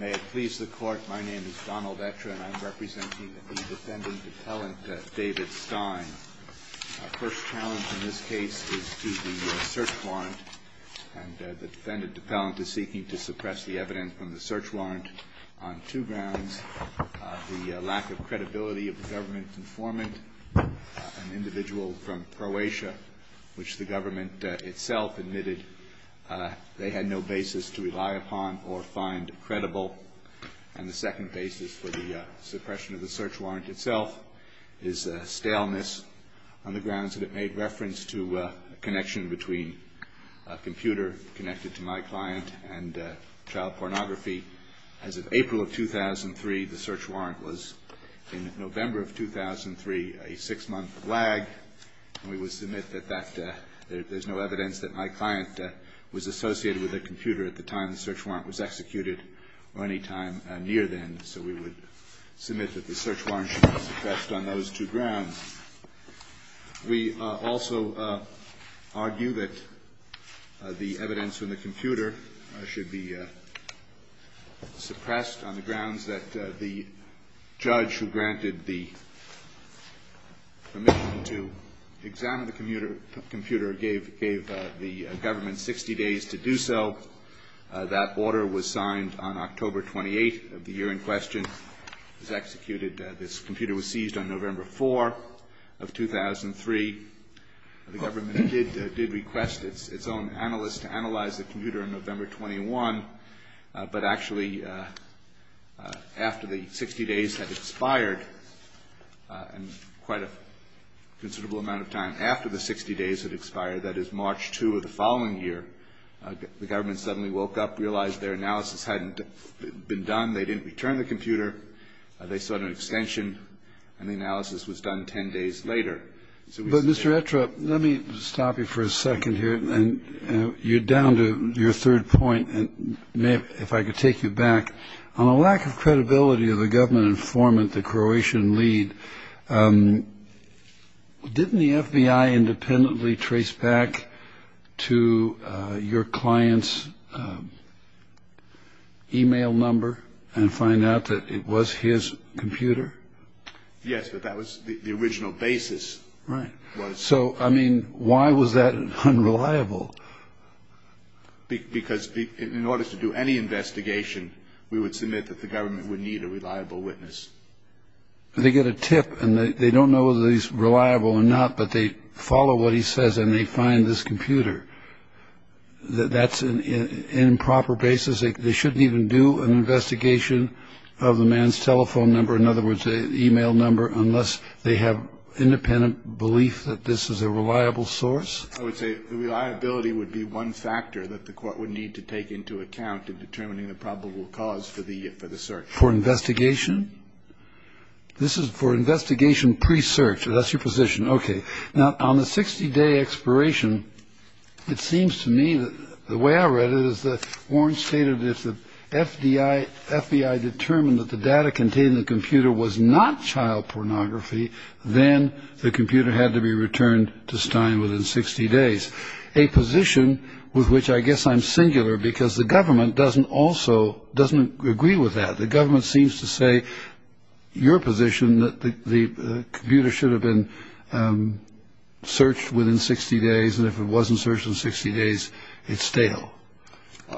May it please the court, my name is Donald Etra and I'm representing the defendant-appellant David Stein. Our first challenge in this case is to the search warrant. And the defendant-appellant is seeking to suppress the evidence from the search warrant on two grounds. The lack of credibility of the government informant, an individual from Croatia, which the government itself admitted they had no basis to rely upon or find credible. And the second basis for the suppression of the search warrant itself is staleness on the grounds that it made reference to a connection between a computer connected to my client and child pornography. As of April of 2003, the search warrant was, in November of 2003, a six-month lag. And we would submit that there's no evidence that my client was associated with a computer at the time the search warrant was executed or any time near then. So we would submit that the search warrant should be suppressed on those two grounds. We also argue that the evidence from the computer should be suppressed on the grounds that the judge who granted the permission to examine the computer gave the government 60 days to do so. That order was signed on October 28 of the year in question. It was executed. This computer was seized on November 4 of 2003. The government did request its own analyst to analyze the computer on November 21. But actually, after the 60 days had expired, and quite a considerable amount of time after the 60 days had expired, that is, March 2 of the following year, the government suddenly woke up, realized their analysis hadn't been done, they didn't return the computer, they sought an extension, and the analysis was done 10 days later. But, Mr. Ettrup, let me stop you for a second here. You're down to your third point. If I could take you back. On a lack of credibility of the government informant, the Croatian lead, didn't the FBI independently trace back to your client's e-mail number and find out that it was his computer? Yes, but that was the original basis. Right. So, I mean, why was that unreliable? Because in order to do any investigation, we would submit that the government would need a reliable witness. They get a tip, and they don't know whether he's reliable or not, but they follow what he says, and they find this computer. That's an improper basis. They shouldn't even do an investigation of the man's telephone number. In other words, an e-mail number, unless they have independent belief that this is a reliable source. I would say reliability would be one factor that the court would need to take into account in determining the probable cause for the search. For investigation? This is for investigation pre-search. That's your position. Okay. Now, on the 60-day expiration, it seems to me that the way I read it is that Warren stated that if the FBI determined that the data contained in the computer was not child pornography, then the computer had to be returned to Stein within 60 days, a position with which I guess I'm singular because the government doesn't agree with that. The government seems to say your position, that the computer should have been searched within 60 days, and if it wasn't searched in 60 days, it's stale.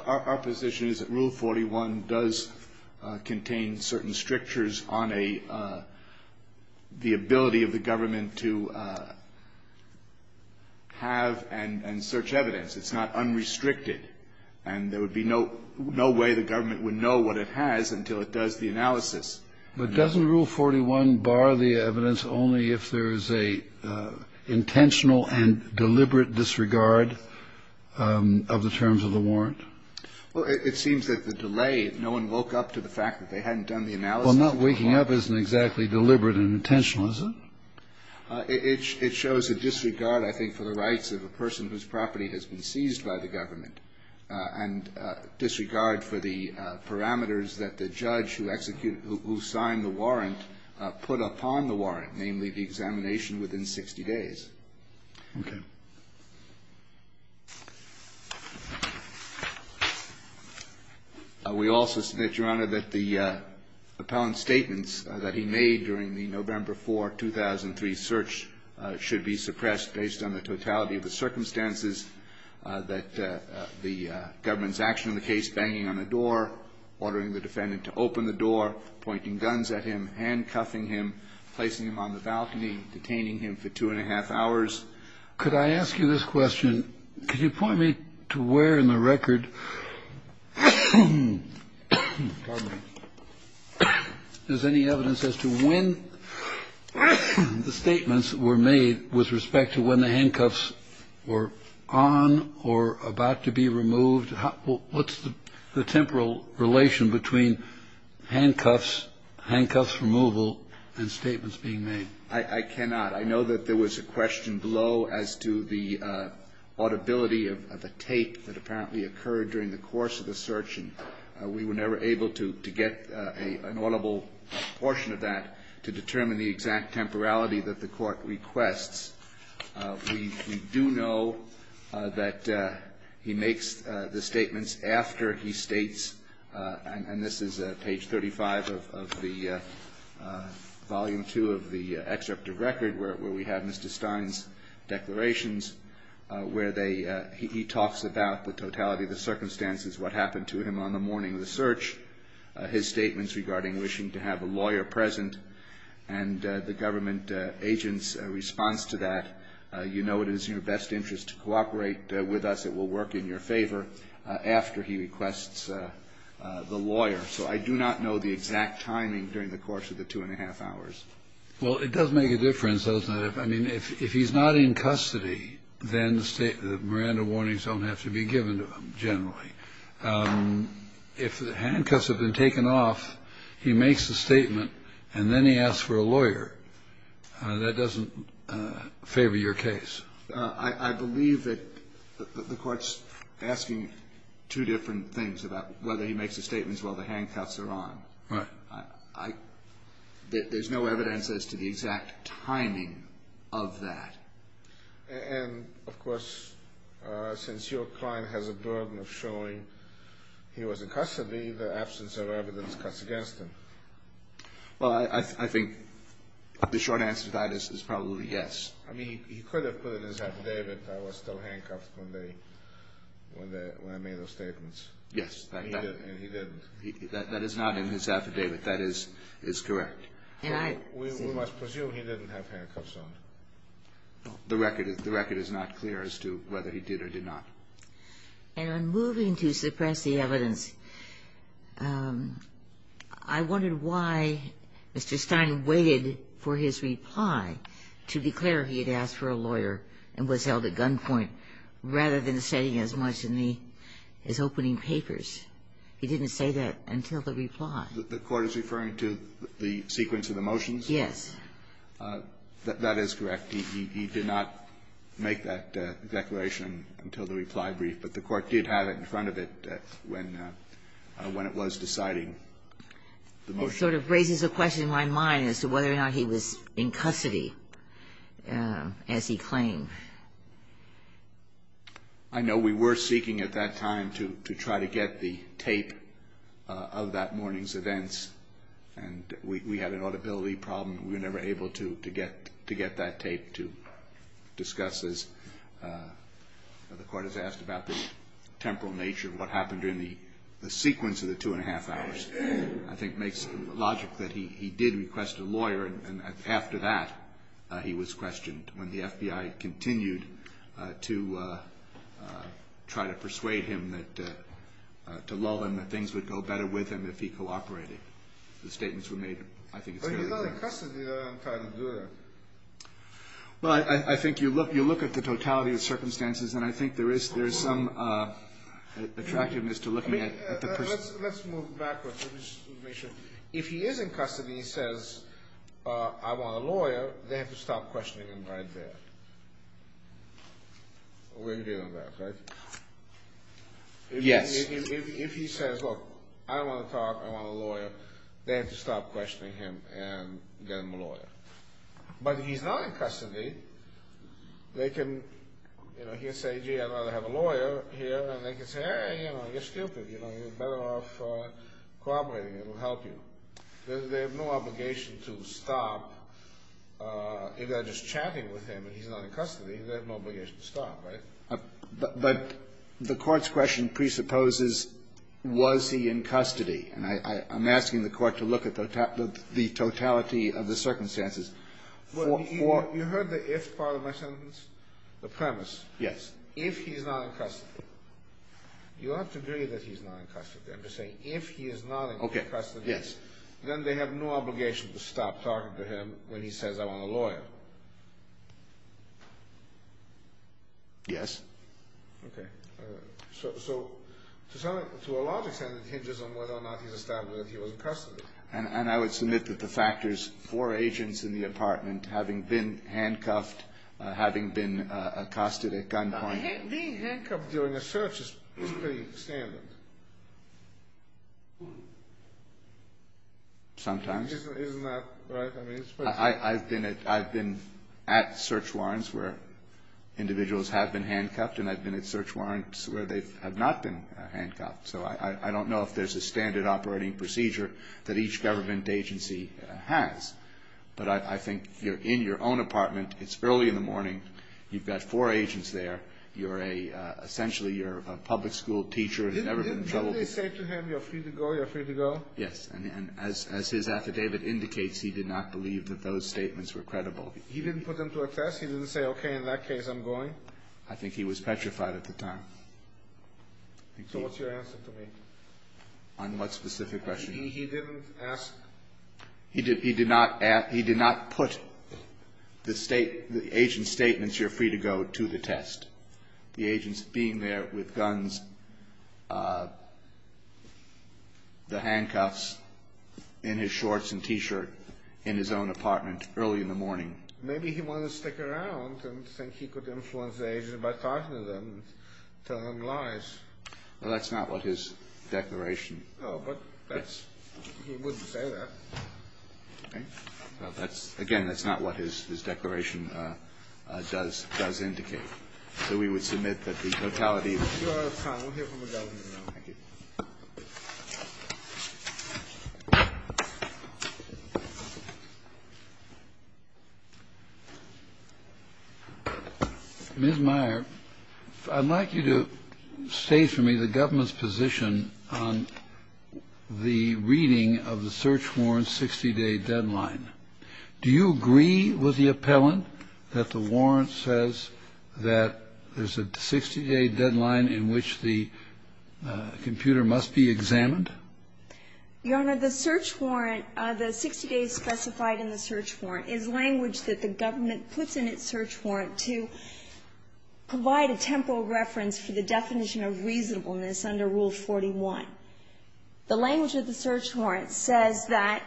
Our position is that Rule 41 does contain certain strictures on the ability of the government to have and search evidence. It's not unrestricted. And there would be no way the government would know what it has until it does the analysis. But doesn't Rule 41 bar the evidence only if there is an intentional and deliberate disregard of the terms of the warrant? Well, it seems that the delay, no one woke up to the fact that they hadn't done the analysis. Well, not waking up isn't exactly deliberate and intentional, is it? It shows a disregard, I think, for the rights of a person whose property has been seized by the government, and disregard for the parameters that the judge who executed or who signed the warrant put upon the warrant, namely the examination within 60 days. Okay. Thank you. We also submit, Your Honor, that the appellant's statements that he made during the November 4, 2003 search should be suppressed based on the totality of the circumstances, that the government's action in the case, banging on the door, ordering the defendant to open the door, pointing guns at him, handcuffing him, placing him on the balcony, detaining him for two and a half hours. Could I ask you this question? Could you point me to where in the record is any evidence as to when the statements were made with respect to when the handcuffs were on or about to be removed? What's the temporal relation between handcuffs, handcuffs removal, and statements being made? I cannot. I know that there was a question below as to the audibility of a tape that apparently occurred during the course of the search, and we were never able to get an audible portion of that to determine the exact temporality that the Court requests. We do know that he makes the statements after he states, and this is page 35 of the volume 2 of the excerpt of record where we have Mr. Stein's declarations, where he talks about the totality of the circumstances, what happened to him on the morning of the search, his statements regarding wishing to have a lawyer for that. You know it is in your best interest to cooperate with us. It will work in your favor after he requests the lawyer. So I do not know the exact timing during the course of the two and a half hours. Well, it does make a difference, doesn't it? I mean, if he's not in custody, then the Miranda warnings don't have to be given to him, generally. If the handcuffs have been taken off, he makes a statement, and then he asks for a lawyer. That doesn't favor your case. I believe that the Court's asking two different things about whether he makes the statements while the handcuffs are on. Right. There's no evidence as to the exact timing of that. And, of course, since your client has a burden of showing he was in custody, the absence of evidence cuts against him. Well, I think the short answer to that is probably yes. I mean, he could have put it in his affidavit that I was still handcuffed when I made those statements. Yes. And he didn't. That is not in his affidavit. That is correct. We must presume he didn't have handcuffs on. The record is not clear as to whether he did or did not. And on moving to suppress the evidence, I wondered why Mr. Stein waited for his reply to declare he had asked for a lawyer and was held at gunpoint, rather than saying as much in his opening papers. He didn't say that until the reply. The Court is referring to the sequence of the motions? Yes. That is correct. He did not make that declaration until the reply brief. But the Court did have it in front of it when it was deciding the motion. It sort of raises a question in my mind as to whether or not he was in custody, as he claimed. I know we were seeking at that time to try to get the tape of that morning's events. And we had an audibility problem. We were never able to get that tape to discuss this. The Court has asked about the temporal nature of what happened during the sequence of the two-and-a-half hours. I think it makes logic that he did request a lawyer, and after that, he was questioned when the FBI continued to try to persuade him that to lull him that things would go better with him if he cooperated. The statements were made, I think, fairly quickly. He's not in custody. They're not trying to do that. Well, I think you look at the totality of circumstances, and I think there is some attractiveness to looking at the person. Let's move backwards. Let me just make sure. If he is in custody and he says, I want a lawyer, they have to stop questioning him right there. We're dealing with that, right? If he says, look, I don't want to talk. I want a lawyer. They have to stop questioning him and get him a lawyer. But if he's not in custody, they can, you know, he can say, gee, I'd rather have a lawyer here, and they can say, hey, you know, you're stupid. You're better off cooperating. It'll help you. They have no obligation to stop. If they're just chatting with him and he's not in custody, they have no obligation to stop, right? But the Court's question presupposes, was he in custody? And I'm asking the Court to look at the totality of the circumstances. You heard the if part of my sentence, the premise. Yes. If he's not in custody. You don't have to agree that he's not in custody. I'm just saying if he is not in custody, then they have no obligation to stop talking to him when he says, I want a lawyer. Yes. Okay. So to a large extent, it hinges on whether or not he's established that he was in custody. And I would submit that the factors for agents in the apartment having been handcuffed, having been accosted at gunpoint. Being handcuffed during a search is pretty standard. Sometimes. Isn't that right? I mean, it's pretty standard. I've been at search warrants where individuals have been handcuffed, and I've been at search warrants where they have not been handcuffed. So I don't know if there's a standard operating procedure that each government agency has. But I think you're in your own apartment. It's early in the morning. You've got four agents there. You're a, essentially, you're a public school teacher who's never been in trouble. Didn't they say to him, you're free to go, you're free to go? Yes. And as his affidavit indicates, he did not believe that those statements were credible. He didn't put them to a test? He didn't say, okay, in that case, I'm going? I think he was petrified at the time. So what's your answer to me? On what specific question? He didn't ask? He did not put the agent's statements, you're free to go, to the test. The agent's being there with guns, the handcuffs, in his shorts and T-shirt, in his own apartment, early in the morning. Maybe he wanted to stick around and think he could influence the agent by talking to them and telling them lies. Well, that's not what his declaration. No, but that's, he wouldn't say that. Okay. Well, that's, again, that's not what his declaration does indicate. So we would submit that the totality of the... You are out of time. We'll hear from the government now. Thank you. Ms. Meyer, I'd like you to state for me the government's position on the reading of the search warrant 60-day deadline. Do you agree with the appellant that the warrant says that there's a 60-day deadline in which the computer must be examined? Your Honor, the search warrant, the 60 days specified in the search warrant, is language that the government puts in its search warrant to provide a temporal reference for the definition of reasonableness under Rule 41. The language of the search warrant says that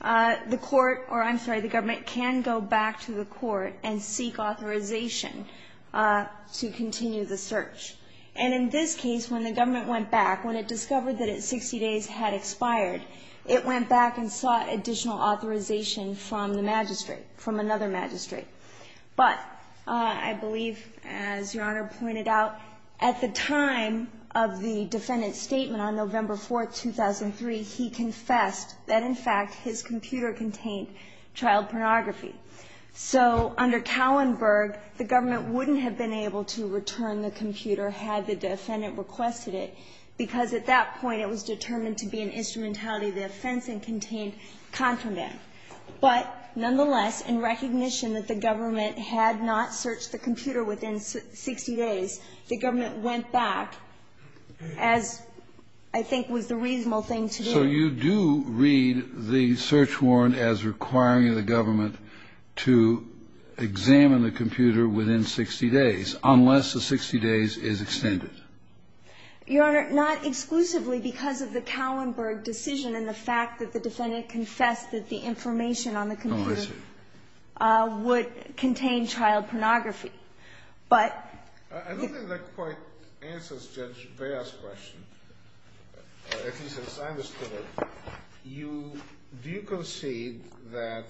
the court, or I'm sorry, the government can go back to the court and seek authorization to continue the search. And in this case, when the government went back, when it discovered that its 60 days had expired, it went back and sought additional authorization from the magistrate, from another magistrate. But I believe, as Your Honor pointed out, at the time of the defendant's statement on November 4, 2003, he confessed that, in fact, his computer contained child pornography. So under Kallenberg, the government wouldn't have been able to return the computer had the defendant requested it, because at that point, it was determined to be an instrumentality of the offense and contained contraband. But nonetheless, in recognition that the government had not searched the computer within 60 days, the government went back, as I think was the reasonable thing to do. So you do read the search warrant as requiring the government to examine the computer within 60 days, unless the 60 days is extended? Your Honor, not exclusively because of the Kallenberg decision and the fact that the defendant confessed that the information on the computer would contain child pornography. But the question. At least as I understood it, you do concede that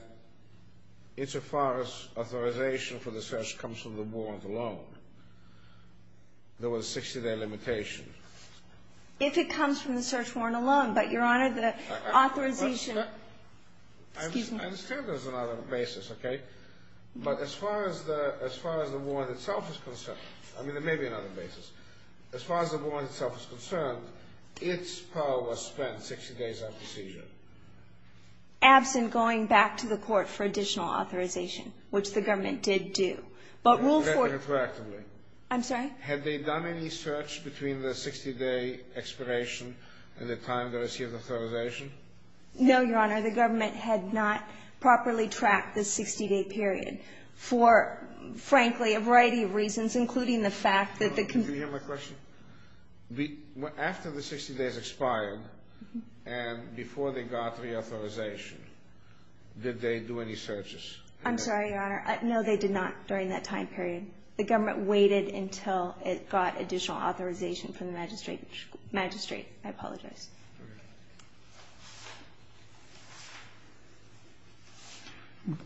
it's as far as authorization for the search comes from the warrant alone? There was a 60-day limitation. If it comes from the search warrant alone. But, Your Honor, the authorization. Excuse me. I understand there's another basis, okay? But as far as the warrant itself is concerned, I mean, there may be another basis. As far as the warrant itself is concerned, its power was spent 60 days after seizure. Absent going back to the court for additional authorization, which the government did do. But Rule 40. I'm sorry? Had they done any search between the 60-day expiration and the time they received authorization? No, Your Honor. Can you hear my question? After the 60 days expired and before they got reauthorization, did they do any searches? I'm sorry, Your Honor. No, they did not during that time period. The government waited until it got additional authorization from the magistrate. I apologize.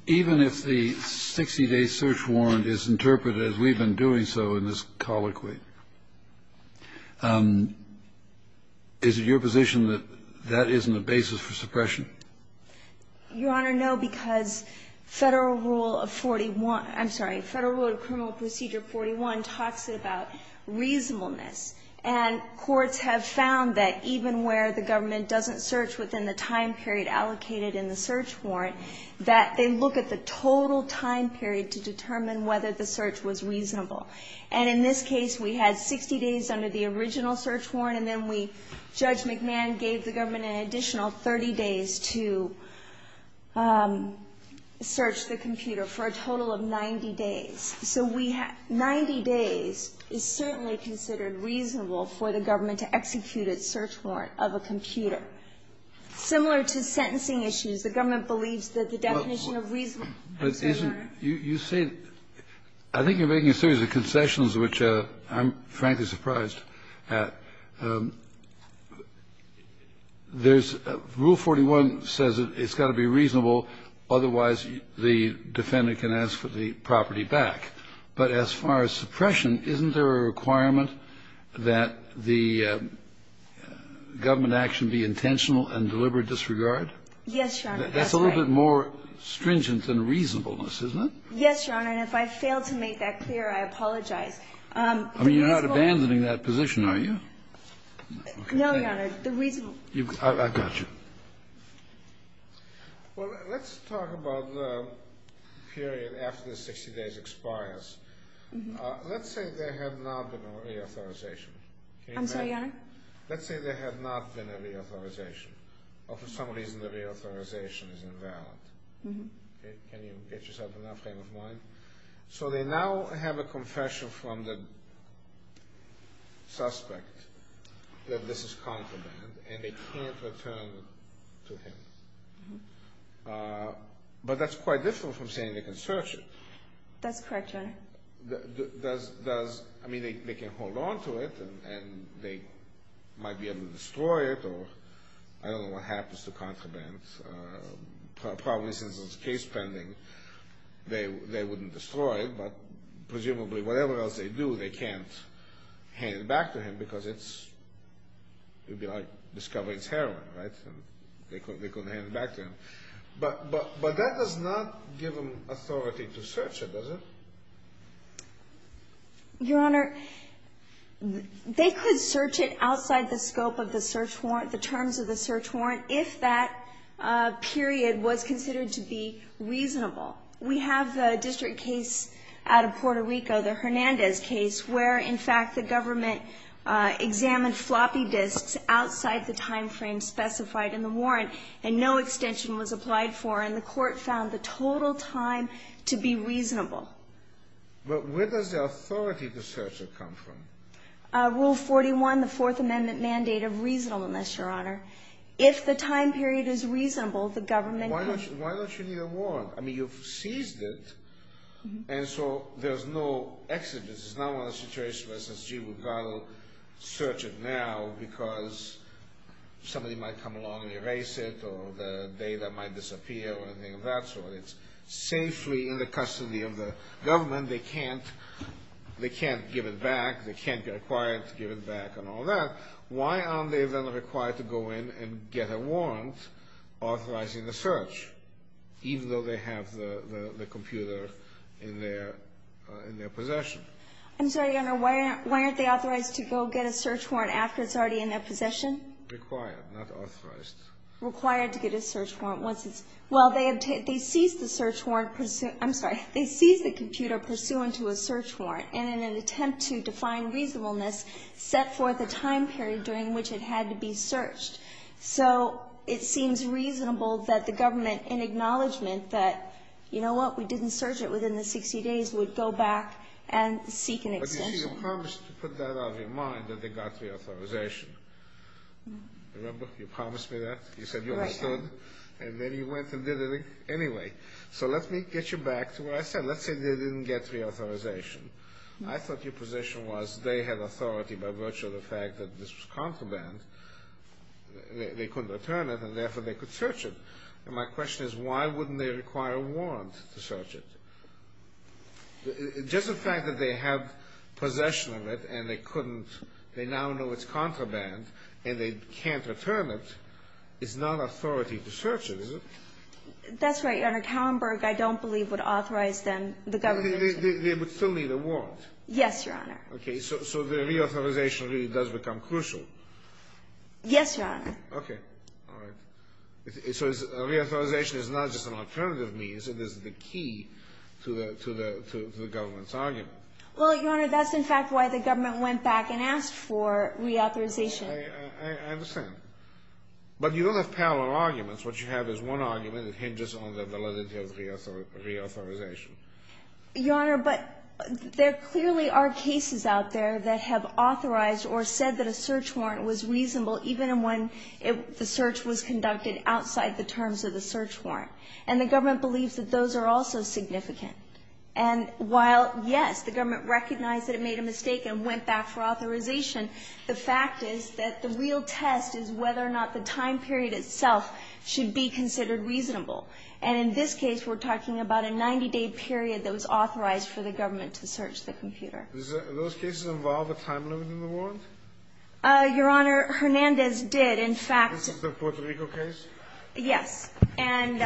Even if the 60-day search warrant is interpreted as we've been doing so in this colloquy, is it your position that that isn't a basis for suppression? Your Honor, no, because Federal Rule of 41 – I'm sorry, Federal Rule of Criminal Procedure 41 talks about reasonableness. And courts have found that even where the government doesn't search within the time period allocated in the search warrant, that they look at the total time period to determine whether the search was reasonable. And in this case, we had 60 days under the original search warrant, and then we – Judge McMahon gave the government an additional 30 days to search the computer for a total of 90 days. So we have – 90 days is certainly considered reasonable for the government to execute a search warrant of a computer. Similar to sentencing issues, the government believes that the definition of reason – I'm sorry, Your Honor. You say – I think you're making a series of concessions, which I'm frankly surprised at. There's – Rule 41 says it's got to be reasonable, otherwise the defendant can ask for the property back. But as far as suppression, isn't there a requirement that the government action be intentional and deliberate disregard? Yes, Your Honor. That's a little bit more stringent than reasonableness, isn't it? Yes, Your Honor. And if I fail to make that clear, I apologize. I mean, you're not abandoning that position, are you? No, Your Honor. The reason – I've got you. Well, let's talk about the period after the 60 days expires. Let's say there had not been a reauthorization. I'm sorry, Your Honor? Let's say there had not been a reauthorization, or for some reason the reauthorization is invalid. Can you get yourself enough frame of mind? So they now have a confession from the suspect that this is contraband, and they can't return to him. But that's quite different from saying they can search him. That's correct, Your Honor. Does – I mean, they can hold on to it, and they might be able to destroy it, or I don't know what happens to contraband. Probably, since it's case pending, they wouldn't destroy it, but presumably whatever else they do, they can't hand it back to him, because it's – it would be like discovering it's heroin, right? They couldn't hand it back to him. But that does not give them authority to search it, does it? Your Honor, they could search it outside the scope of the search warrant, the terms of the search warrant, if that period was considered to be reasonable. We have the district case out of Puerto Rico, the Hernandez case, where, in fact, the government examined floppy disks outside the timeframe specified in the warrant, and no extension was applied for, and the court found the total time to be reasonable. But where does the authority to search it come from? Rule 41, the Fourth Amendment mandate of reasonableness, Your Honor. If the time period is reasonable, the government can – Why don't you need a warrant? I mean, you've seized it, and so there's no exodus. This is not a situation where SSG would go out and search it now because somebody might come along and erase it, or the data might disappear or anything of that sort. It's safely in the custody of the government. They can't give it back. They can't get acquired to give it back and all that. Why aren't they then required to go in and get a warrant authorizing the search, even though they have the computer in their possession? I'm sorry, Your Honor. Why aren't they authorized to go get a search warrant after it's already in their possession? Required, not authorized. Required to get a search warrant once it's – Well, they seized the search warrant – I'm sorry. They seized the computer pursuant to a search warrant, and in an attempt to define reasonableness, set forth a time period during which it had to be searched. So it seems reasonable that the government in acknowledgment that, you know what, we didn't search it within the 60 days, would go back and seek an extension. But you see, you promised to put that out of your mind that they got reauthorization. Remember? You promised me that. You said you understood. Right. And then you went and did it anyway. So let me get you back to what I said. Let's say they didn't get reauthorization. I thought your position was they had authority by virtue of the fact that this was contraband. They couldn't return it, and therefore they could search it. And my question is, why wouldn't they require a warrant to search it? Just the fact that they have possession of it, and they couldn't – they now know it's contraband, and they can't return it, is not authority to search it, is it? That's right, Your Honor. Kallenberg, I don't believe, would authorize them – the government – They would still need a warrant. Yes, Your Honor. Okay. So the reauthorization really does become crucial. Yes, Your Honor. Okay. All right. So reauthorization is not just an alternative means. It is the key to the government's argument. Well, Your Honor, that's, in fact, why the government went back and asked for reauthorization. I understand. But you don't have parallel arguments. What you have is one argument that hinges on the validity of reauthorization. Your Honor, but there clearly are cases out there that have authorized or said that a search warrant was reasonable even when the search was conducted outside the terms of the search warrant. And the government believes that those are also significant. And while, yes, the government recognized that it made a mistake and went back for authorization, the fact is that the real test is whether or not the time period itself should be considered reasonable. And in this case, we're talking about a 90-day period that was authorized for the government to search the computer. Does those cases involve a time limit in the warrant? Your Honor, Hernandez did, in fact. This is the Puerto Rico case? Yes. And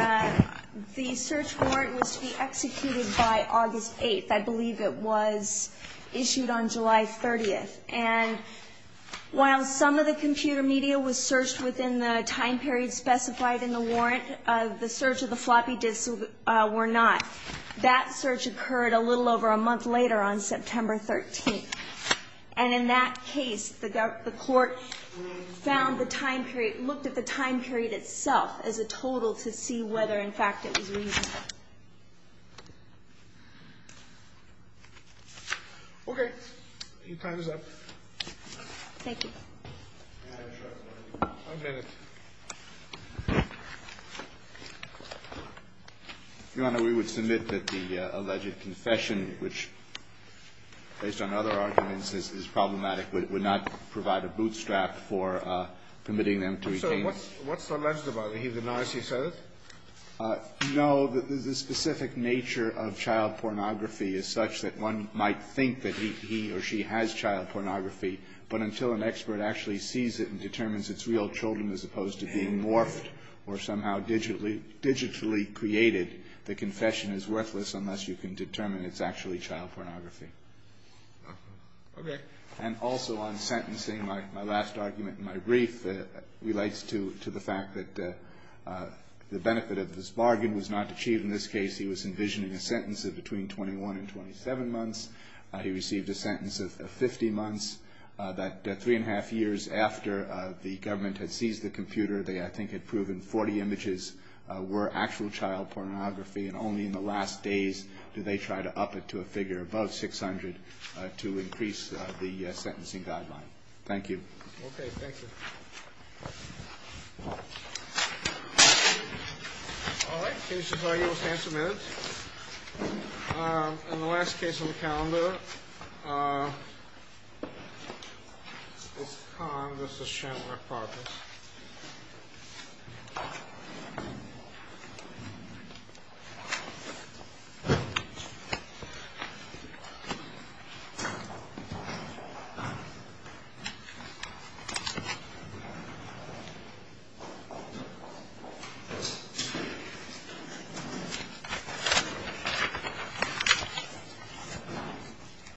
the search warrant was to be executed by August 8th. I believe it was issued on July 30th. And while some of the computer media was searched within the time period specified in the warrant, the search of the floppy disks were not. That search occurred a little over a month later on September 13th. And in that case, the court found the time period, looked at the time period itself as a total to see whether, in fact, it was reasonable. Okay. Your time is up. Thank you. I'll get it. Your Honor, we would submit that the alleged confession, which based on other arguments is problematic, would not provide a bootstrap for permitting them to retain. So what's alleged about it? He denies he said it? No. The specific nature of child pornography is such that one might think that he or she has child pornography, but until an expert actually sees it and determines it's real children as opposed to being morphed or somehow digitally created, the confession is worthless unless you can determine it's actually child pornography. Okay. And also on sentencing, my last argument in my brief relates to the fact that the benefit of this bargain was not achieved. In this case, he was envisioning a sentence of between 21 and 27 months. He received a sentence of 50 months. Three and a half years after the government had seized the computer, they I think had proven 40 images were actual child pornography, and only in the last days did they try to up it to a figure above 600 to increase the sentencing guideline. Thank you. Okay. Thank you. All right. We'll stand for a minute. In the last case on the calendar, it's Khan v. Chantler-Protters. Thank you.